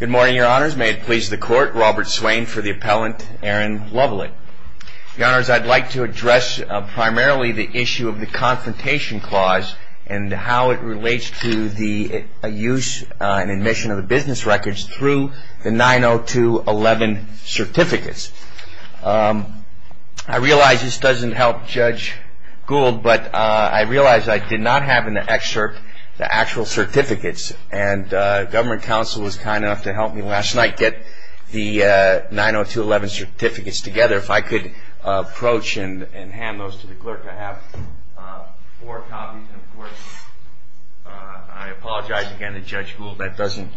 Good morning, your honors. May it please the court, Robert Swain for the appellant, Erin Lovellette. Your honors, I'd like to address primarily the issue of the confrontation clause and how it relates to the use and admission of the business records through the 902.11 certificates. I realize this doesn't help Judge Gould, but I realize I did not have in the excerpt the actual certificates, and government counsel was kind enough to help me last night get the 902.11 certificates together. If I could approach and hand those to the clerk, I have four copies. And, of course, I apologize again to Judge Gould. That doesn't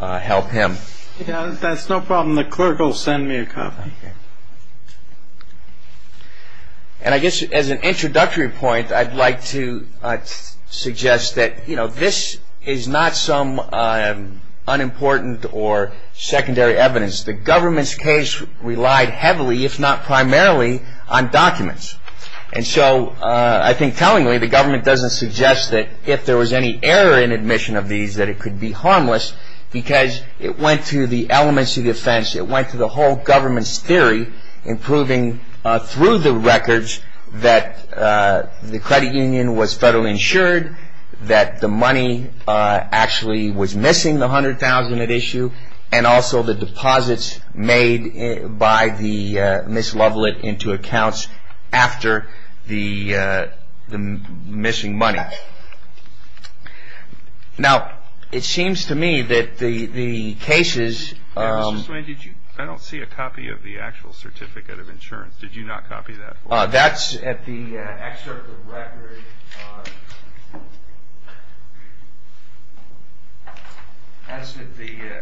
help him. That's no problem. The clerk will send me a copy. And I guess as an introductory point, I'd like to suggest that, you know, this is not some unimportant or secondary evidence. The government's case relied heavily, if not primarily, on documents. And so I think tellingly, the government doesn't suggest that if there was any error in admission of these, that it could be harmless because it went to the elements of the offense. It went to the whole government's theory in proving through the records that the credit union was federally insured, that the money actually was missing, the $100,000 at issue, and also the deposits made by Ms. Lovelett into accounts after the missing money. Now, it seems to me that the cases... I don't see a copy of the actual certificate of insurance. Did you not copy that? That's at the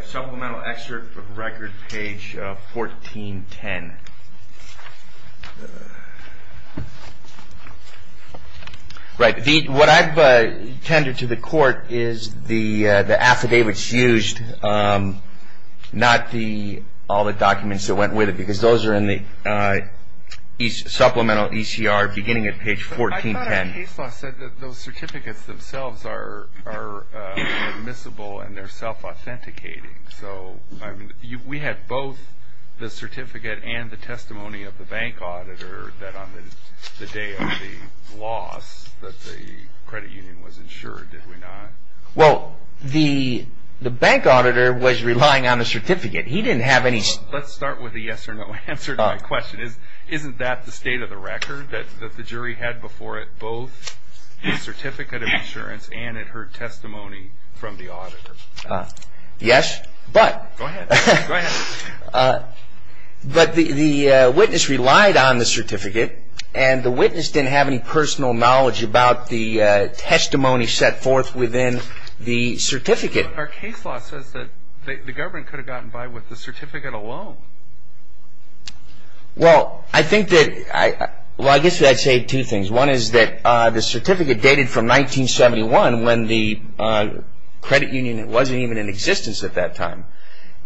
supplemental excerpt of record page 1410. Right. What I've tended to the court is the affidavits used, not all the documents that went with it, because those are in the supplemental ECR beginning at page 1410. I thought a case law said that those certificates themselves are admissible and they're self-authenticating. We had both the certificate and the testimony of the bank auditor that on the day of the loss that the credit union was insured, did we not? Well, the bank auditor was relying on the certificate. He didn't have any... Let's start with the yes or no answer to my question. Isn't that the state of the record that the jury had before it, both the certificate of insurance and it heard testimony from the auditor? Yes, but... Go ahead. But the witness relied on the certificate and the witness didn't have any personal knowledge about the testimony set forth within the certificate. Our case law says that the government could have gotten by with the certificate alone. Well, I think that... Well, I guess I'd say two things. One is that the certificate dated from 1971 when the credit union wasn't even in existence at that time.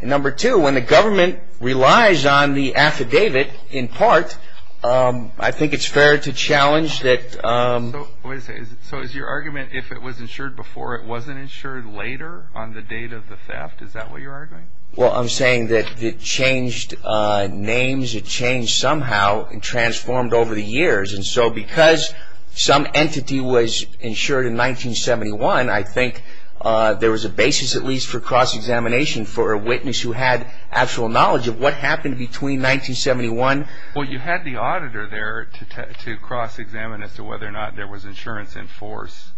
And number two, when the government relies on the affidavit in part, I think it's fair to challenge that... So is your argument if it was insured before, it wasn't insured later on the date of the theft? Is that what you're arguing? Well, I'm saying that it changed names. It changed somehow and transformed over the years. And so because some entity was insured in 1971, I think there was a basis at least for cross-examination for a witness who had actual knowledge of what happened between 1971... Well, you had the auditor there to cross-examine as to whether or not there was insurance in force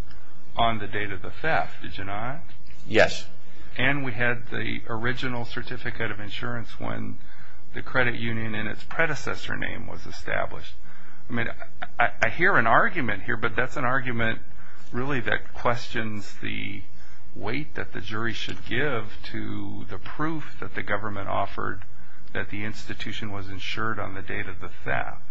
on the date of the theft, did you not? Yes. And we had the original certificate of insurance when the credit union and its predecessor name was established. I mean, I hear an argument here, but that's an argument really that questions the weight that the jury should give to the proof that the government offered that the institution was insured on the date of the theft.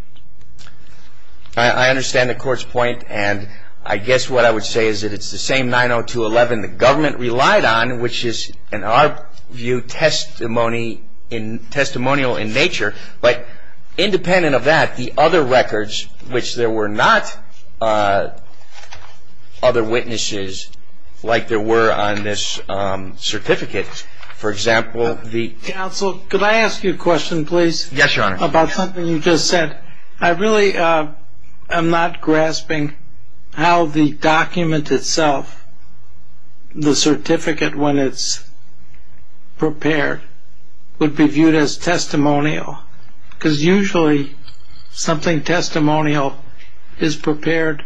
I understand the court's point, and I guess what I would say is that it's the same 902.11 the government relied on, which is, in our view, testimonial in nature. But independent of that, the other records, which there were not other witnesses like there were on this certificate, for example... Counsel, could I ask you a question, please? Yes, Your Honor. About something you just said, I really am not grasping how the document itself, the certificate when it's prepared, would be viewed as testimonial, because usually something testimonial is prepared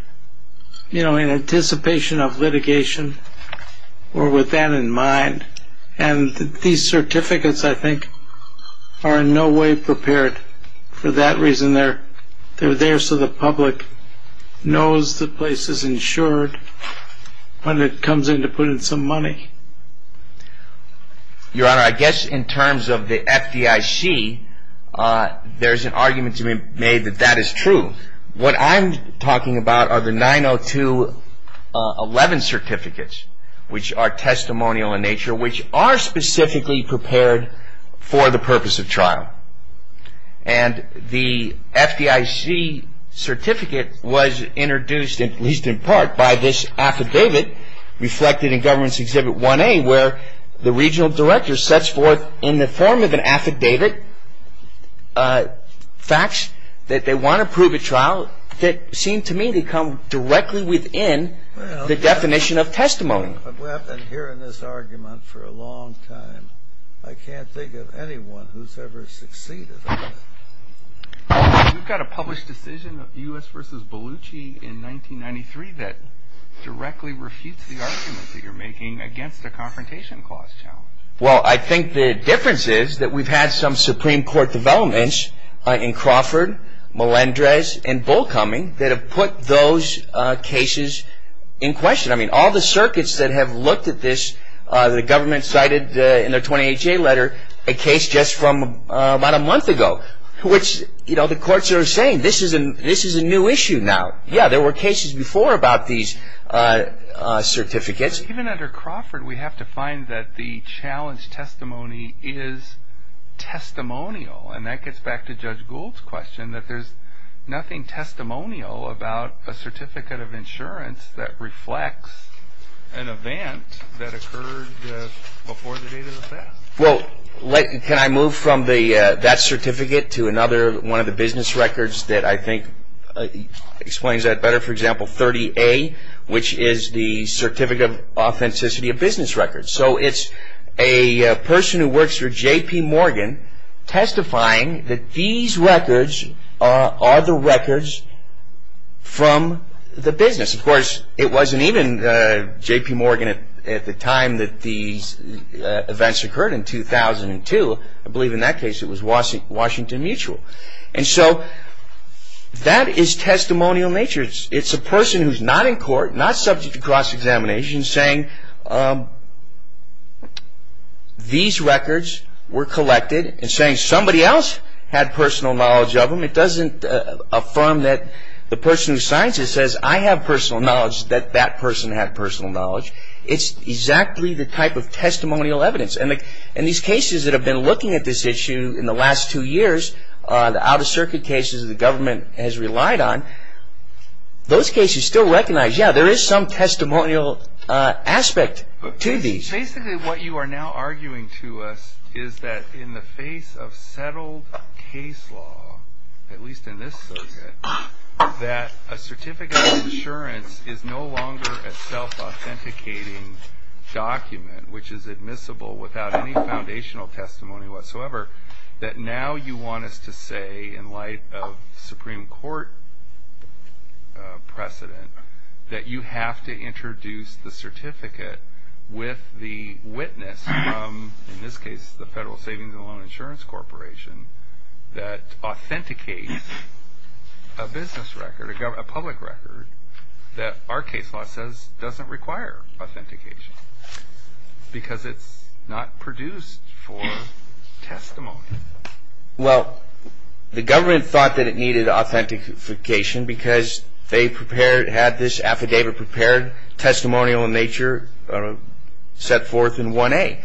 in anticipation of litigation or with that in mind. And these certificates, I think, are in no way prepared for that reason. They're there so the public knows the place is insured when it comes in to put in some money. Your Honor, I guess in terms of the FDIC, there's an argument to be made that that is true. What I'm talking about are the 902.11 certificates, which are testimonial in nature, which are specifically prepared for the purpose of trial. And the FDIC certificate was introduced, at least in part, by this affidavit reflected in Government's Exhibit 1A, where the regional director sets forth, in the form of an affidavit, facts that they want to prove at trial that seem to me to come directly within the definition of testimony. I've been hearing this argument for a long time. I can't think of anyone who's ever succeeded. You've got a published decision of U.S. v. Bellucci in 1993 that directly refutes the argument that you're making against a confrontation clause challenge. Well, I think the difference is that we've had some Supreme Court developments in Crawford, Melendrez, and Bullcoming that have put those cases in question. I mean, all the circuits that have looked at this, the government cited in their 28-J letter a case just from about a month ago, which the courts are saying, this is a new issue now. Yeah, there were cases before about these certificates. Even under Crawford, we have to find that the challenge testimony is testimonial. And that gets back to Judge Gould's question, that there's nothing testimonial about a certificate of insurance that reflects an event that occurred before the date of the theft. Well, can I move from that certificate to another one of the business records that I think explains that better? For example, 30A, which is the Certificate of Authenticity of Business Records. So it's a person who works for J.P. Morgan testifying that these records are the records from the business. Of course, it wasn't even J.P. Morgan at the time that these events occurred in 2002. I believe in that case it was Washington Mutual. And so that is testimonial nature. It's a person who's not in court, not subject to cross-examination, saying these records were collected and saying somebody else had personal knowledge of them. It doesn't affirm that the person who signs it says, I have personal knowledge that that person had personal knowledge. It's exactly the type of testimonial evidence. And these cases that have been looking at this issue in the last two years, the Out-of-Circuit cases the government has relied on, those cases still recognize, yeah, there is some testimonial aspect to these. So basically what you are now arguing to us is that in the face of settled case law, at least in this circuit, that a certificate of assurance is no longer a self-authenticating document, which is admissible without any foundational testimony whatsoever, that now you want us to say in light of Supreme Court precedent that you have to introduce the certificate with the witness from, in this case, the Federal Savings and Loan Insurance Corporation that authenticates a business record, a public record, that our case law says doesn't require authentication because it's not produced for testimony. Well, the government thought that it needed authentication because they prepared, had this affidavit prepared, testimonial in nature set forth in 1A.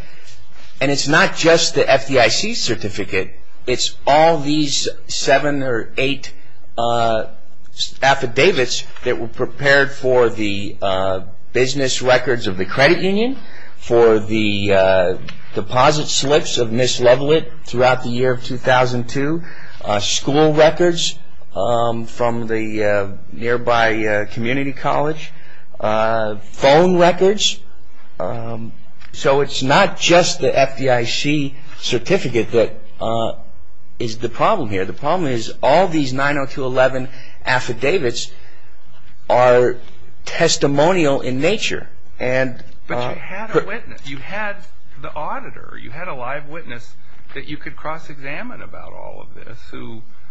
And it's not just the FDIC certificate. It's all these seven or eight affidavits that were prepared for the business records of the credit union, for the deposit slips of Ms. Lovelett throughout the year of 2002, school records from the nearby community college, phone records. So it's not just the FDIC certificate that is the problem here. The problem is all these 902.11 affidavits are testimonial in nature. But you had a witness. You had the auditor. You had a live witness that you could cross-examine about all of this.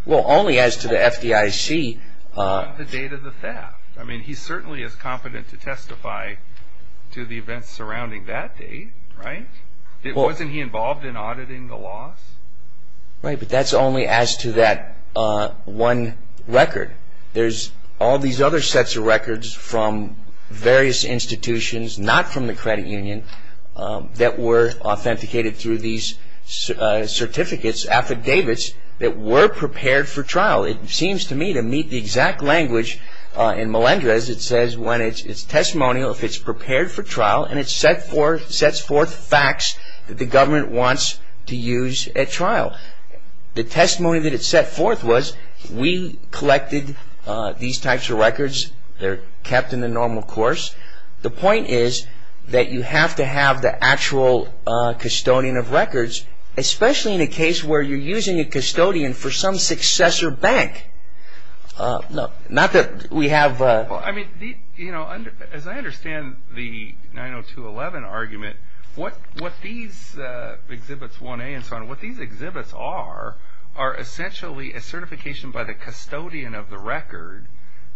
Well, only as to the FDIC. On the date of the theft. I mean, he certainly is competent to testify to the events surrounding that date, right? Wasn't he involved in auditing the loss? Right, but that's only as to that one record. There's all these other sets of records from various institutions, not from the credit union, that were authenticated through these certificates, affidavits, that were prepared for trial. It seems to me to meet the exact language in Melendrez. It says when it's testimonial, if it's prepared for trial, and it sets forth facts that the government wants to use at trial. The testimony that it set forth was we collected these types of records. They're kept in the normal course. The point is that you have to have the actual custodian of records, especially in a case where you're using a custodian for some successor bank. Not that we have a... Well, I mean, as I understand the 902.11 argument, what these Exhibits 1A and so on, what these exhibits are, are essentially a certification by the custodian of the record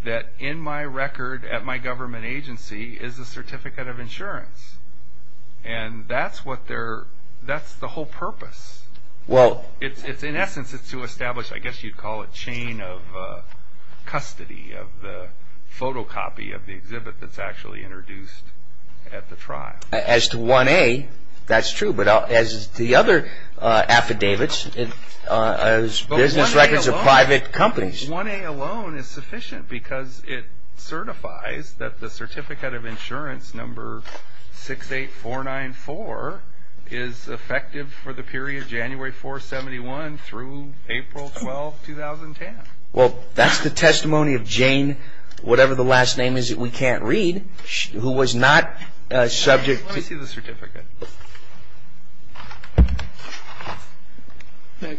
that in my record at my government agency is a certificate of insurance. And that's the whole purpose. In essence, it's to establish, I guess you'd call it, a chain of custody of the photocopy of the exhibit that's actually introduced at the trial. As to 1A, that's true. But as to the other affidavits, business records of private companies... ...that the certificate of insurance, number 68494, is effective for the period January 4, 71 through April 12, 2010. Well, that's the testimony of Jane, whatever the last name is that we can't read, who was not subject to... Let me see the certificate.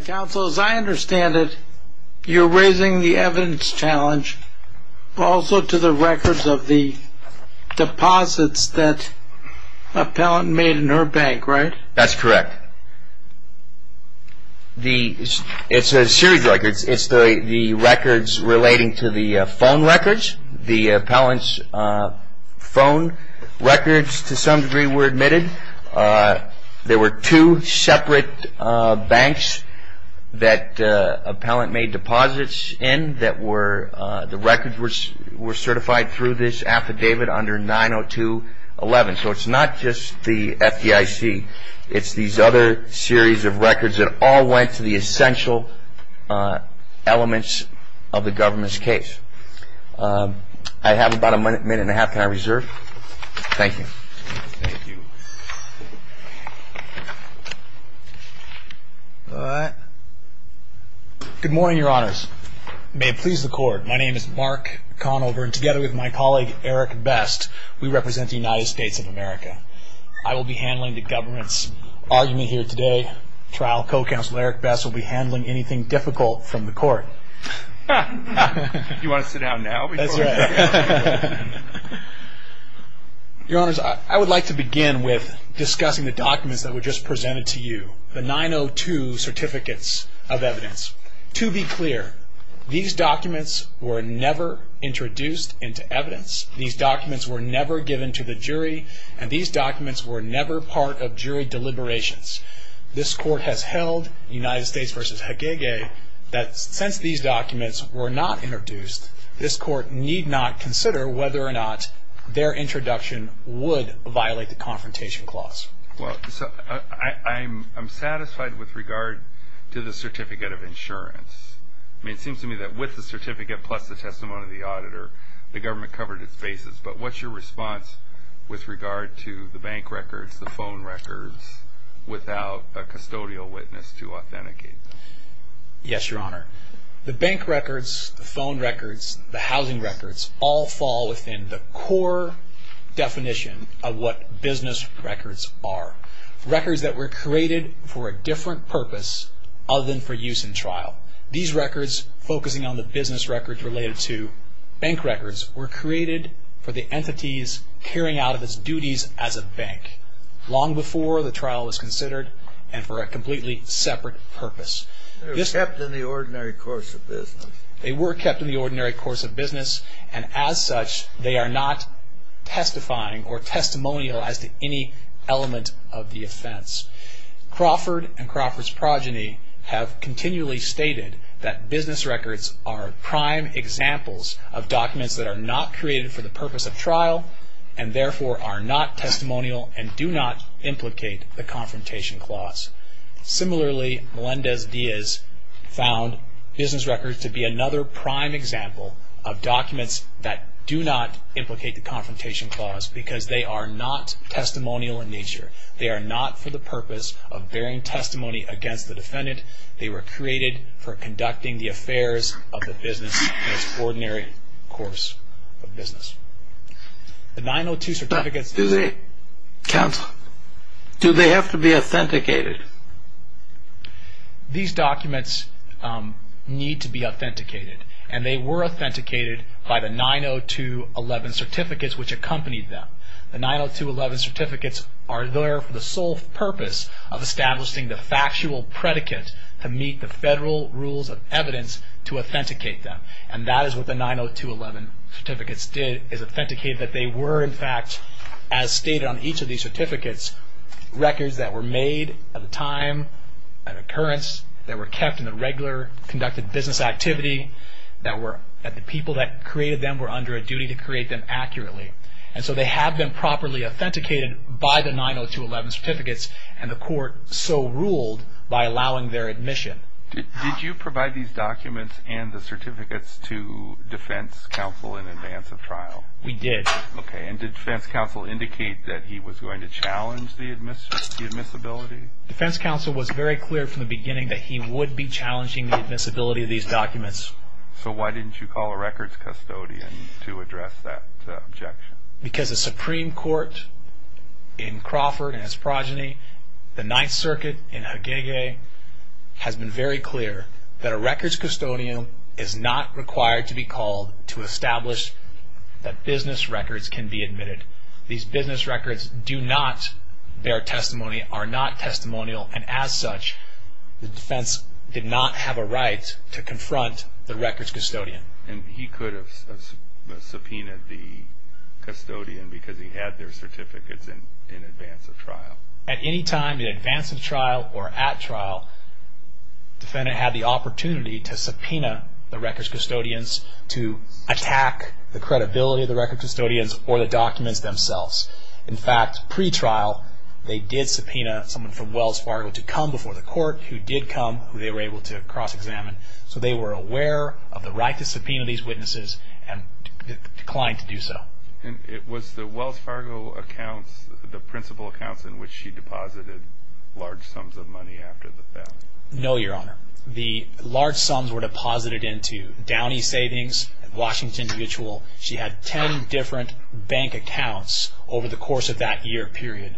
Counsel, as I understand it, you're raising the evidence challenge also to the records of the deposits that appellant made in her bank, right? That's correct. It's a series of records. It's the records relating to the phone records. The appellant's phone records, to some degree, were admitted. There were two separate banks that appellant made deposits in that the records were certified through this affidavit under 902.11. So it's not just the FDIC. It's these other series of records that all went to the essential elements of the government's case. I have about a minute and a half time reserve. Thank you. All right. Good morning, Your Honors. May it please the Court, my name is Mark Conover, and together with my colleague, Eric Best, we represent the United States of America. I will be handling the government's argument here today. Trial co-counsel Eric Best will be handling anything difficult from the Court. You want to sit down now? That's right. Your Honors, I would like to begin with discussing the documents that were just presented to you, the 902 certificates of evidence. To be clear, these documents were never introduced into evidence. These documents were never given to the jury, and these documents were never part of jury deliberations. This Court has held, United States v. Hagege, that since these documents were not introduced, this Court need not consider whether or not their introduction would violate the confrontation clause. Well, I'm satisfied with regard to the certificate of insurance. I mean, it seems to me that with the certificate plus the testimony of the auditor, the government covered its bases. But what's your response with regard to the bank records, the phone records, without a custodial witness to authenticate them? Yes, Your Honor. The bank records, the phone records, the housing records, all fall within the core definition of what business records are. Records that were created for a different purpose other than for use in trial. These records, focusing on the business records related to bank records, were created for the entities carrying out of its duties as a bank, long before the trial was considered and for a completely separate purpose. They were kept in the ordinary course of business. They were kept in the ordinary course of business, and as such they are not testifying or testimonialized to any element of the offense. Crawford and Crawford's progeny have continually stated that business records are prime examples of documents that are not created for the purpose of trial, and therefore are not testimonial and do not implicate the confrontation clause. Similarly, Melendez-Diaz found business records to be another prime example of documents that do not implicate the confrontation clause because they are not testimonial in nature. They are not for the purpose of bearing testimony against the defendant. They were created for conducting the affairs of the business in its ordinary course of business. The 902 certificates... Counsel, do they have to be authenticated? These documents need to be authenticated, and they were authenticated by the 902.11 certificates which accompanied them. The 902.11 certificates are there for the sole purpose of establishing the factual predicate to meet the federal rules of evidence to authenticate them, and that is what the 902.11 certificates did, is authenticate that they were, in fact, as stated on each of these certificates, records that were made at the time of occurrence, that were kept in the regular conducted business activity, that the people that created them were under a duty to create them accurately. And so they have been properly authenticated by the 902.11 certificates, and the court so ruled by allowing their admission. Did you provide these documents and the certificates to defense counsel in advance of trial? We did. Okay, and did defense counsel indicate that he was going to challenge the admissibility? Defense counsel was very clear from the beginning that he would be challenging the admissibility of these documents. So why didn't you call a records custodian to address that objection? Because the Supreme Court in Crawford and his progeny, the Ninth Circuit in Hagege, has been very clear that a records custodian is not required to be called to establish that business records can be admitted. These business records do not bear testimony, are not testimonial, and as such the defense did not have a right to confront the records custodian. And he could have subpoenaed the custodian because he had their certificates in advance of trial. At any time in advance of trial or at trial, defendant had the opportunity to subpoena the records custodians to attack the credibility of the records custodians or the documents themselves. In fact, pre-trial they did subpoena someone from Wells Fargo to come before the court who did come, who they were able to cross-examine. So they were aware of the right to subpoena these witnesses and declined to do so. And it was the Wells Fargo accounts, the principal accounts, in which she deposited large sums of money after the fact? No, Your Honor. The large sums were deposited into Downey Savings, Washington Mutual. She had 10 different bank accounts over the course of that year period.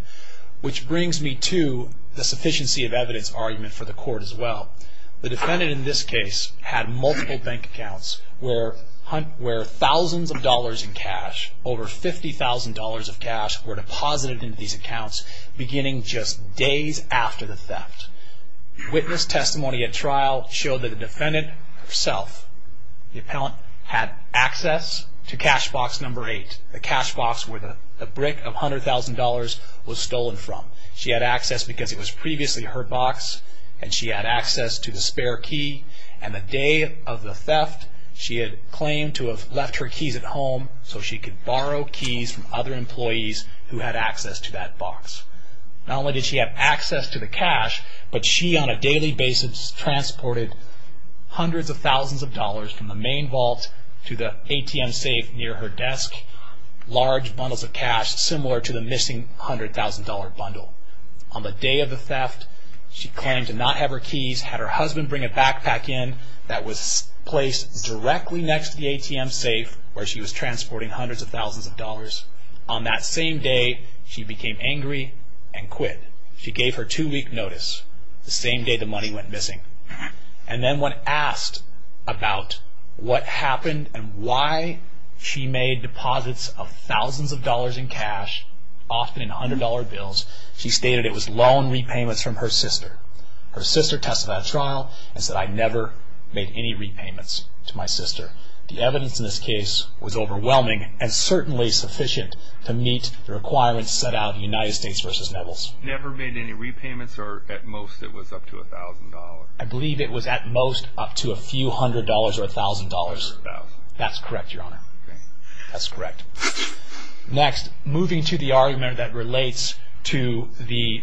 Which brings me to the sufficiency of evidence argument for the court as well. The defendant in this case had multiple bank accounts where thousands of dollars in cash, over $50,000 of cash, were deposited into these accounts beginning just days after the theft. Witness testimony at trial showed that the defendant herself, the appellant, had access to cash box number 8, the cash box where the brick of $100,000 was stolen from. She had access because it was previously her box and she had access to the spare key. And the day of the theft, she had claimed to have left her keys at home so she could borrow keys from other employees who had access to that box. Not only did she have access to the cash, but she on a daily basis transported hundreds of thousands of dollars from the main vault to the ATM safe near her desk, large bundles of cash similar to the missing $100,000 bundle. On the day of the theft, she claimed to not have her keys, had her husband bring a backpack in that was placed directly next to the ATM safe where she was transporting hundreds of thousands of dollars. On that same day, she became angry and quit. She gave her two-week notice the same day the money went missing. And then when asked about what happened and why she made deposits of thousands of dollars in cash, often in $100 bills, she stated it was loan repayments from her sister. Her sister testified at trial and said, I never made any repayments to my sister. The evidence in this case was overwhelming and certainly sufficient to meet the requirements set out in United States v. Nevels. Never made any repayments or at most it was up to $1,000? I believe it was at most up to a few hundred dollars or $1,000. $100,000? That's correct, Your Honor. Okay. That's correct. Next, moving to the argument that relates to the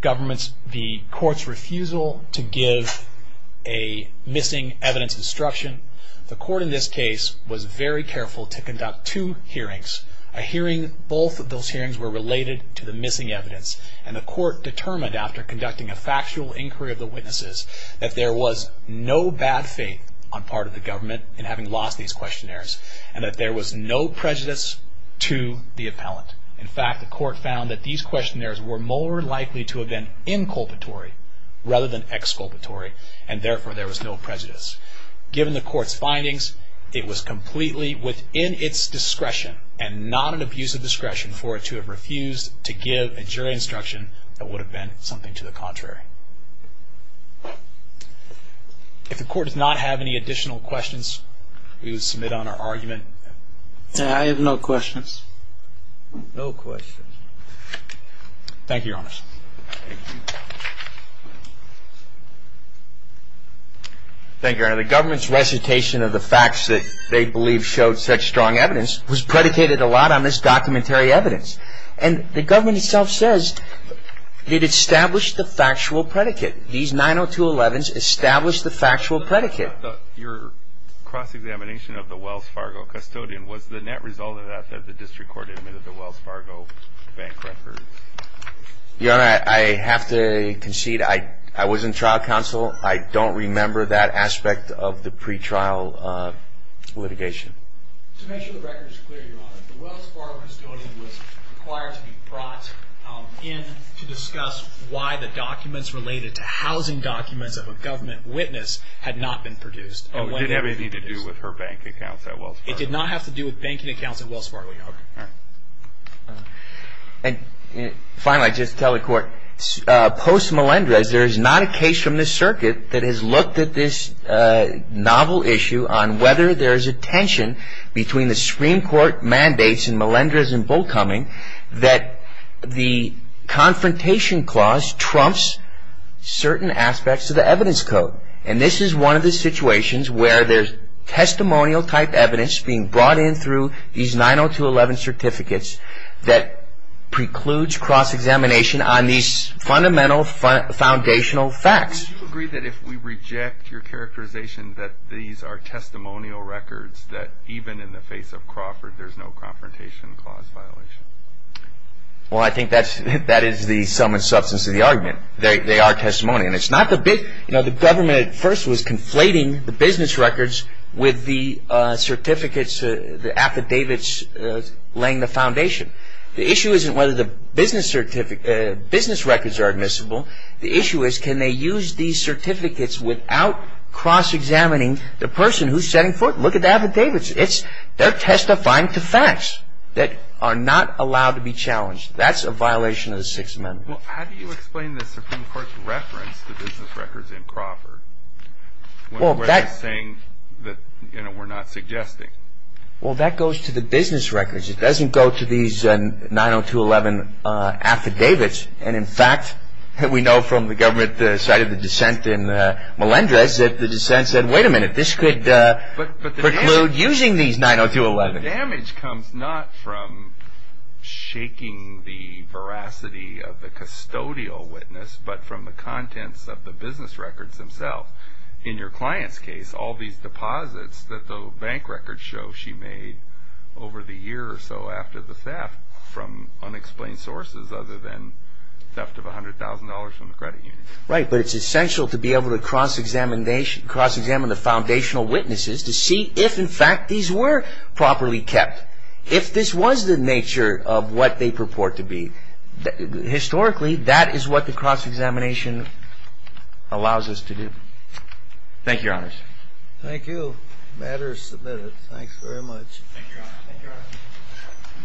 government's, the court's refusal to give a missing evidence instruction. The court in this case was very careful to conduct two hearings. Both of those hearings were related to the missing evidence. And the court determined after conducting a factual inquiry of the witnesses that there was no bad faith on part of the government in having lost these questionnaires and that there was no prejudice to the appellant. In fact, the court found that these questionnaires were more likely to have been inculpatory rather than exculpatory and therefore there was no prejudice. Given the court's findings, it was completely within its discretion and not an abuse of discretion for it to have refused to give a jury instruction that would have been something to the contrary. If the court does not have any additional questions, we will submit on our argument. I have no questions. No questions. Thank you, Your Honor. Thank you, Your Honor. The government's recitation of the facts that they believe showed such strong evidence was predicated a lot on this documentary evidence. And the government itself says it established the factual predicate. These 90211s established the factual predicate. Your cross-examination of the Wells Fargo custodian, was the net result of that that the district court admitted the Wells Fargo bank records? Your Honor, I have to concede I was in trial counsel. I don't remember that aspect of the pretrial litigation. To make sure the record is clear, Your Honor, the Wells Fargo custodian was required to be brought in to discuss why the documents related to housing documents of a government witness had not been produced. Oh, it didn't have anything to do with her bank accounts at Wells Fargo? It did not have to do with banking accounts at Wells Fargo, Your Honor. All right. And finally, just to tell the court, post Melendrez there is not a case from this circuit that has looked at this novel issue on whether there is a tension between the Supreme Court mandates in Melendrez and Bullcoming that the confrontation clause trumps certain aspects of the evidence code. And this is one of the situations where there's testimonial-type evidence being brought in through these 90211 certificates that precludes cross-examination on these fundamental foundational facts. Do you agree that if we reject your characterization that these are testimonial records that even in the face of Crawford there's no confrontation clause violation? Well, I think that is the sum and substance of the argument. They are testimonial. The government at first was conflating the business records with the certificates, the affidavits laying the foundation. The issue isn't whether the business records are admissible. The issue is can they use these certificates without cross-examining the person who's setting foot. Look at the affidavits. They're testifying to facts that are not allowed to be challenged. That's a violation of the Sixth Amendment. Well, how do you explain the Supreme Court's reference to business records in Crawford when they're saying that, you know, we're not suggesting? Well, that goes to the business records. It doesn't go to these 90211 affidavits. And, in fact, we know from the government side of the dissent in Melendrez that the dissent said, wait a minute, this could preclude using these 90211. The damage comes not from shaking the veracity of the custodial witness but from the contents of the business records themselves. In your client's case, all these deposits that the bank records show she made over the year or so after the theft from unexplained sources other than theft of $100,000 from the credit union. Right, but it's essential to be able to cross-examine the foundational witnesses to see if, in fact, these were properly kept, if this was the nature of what they purport to be. Historically, that is what the cross-examination allows us to do. Thank you, Your Honors. Thank you. The matter is submitted. Thanks very much. Thank you, Your Honor. Thank you, Your Honor.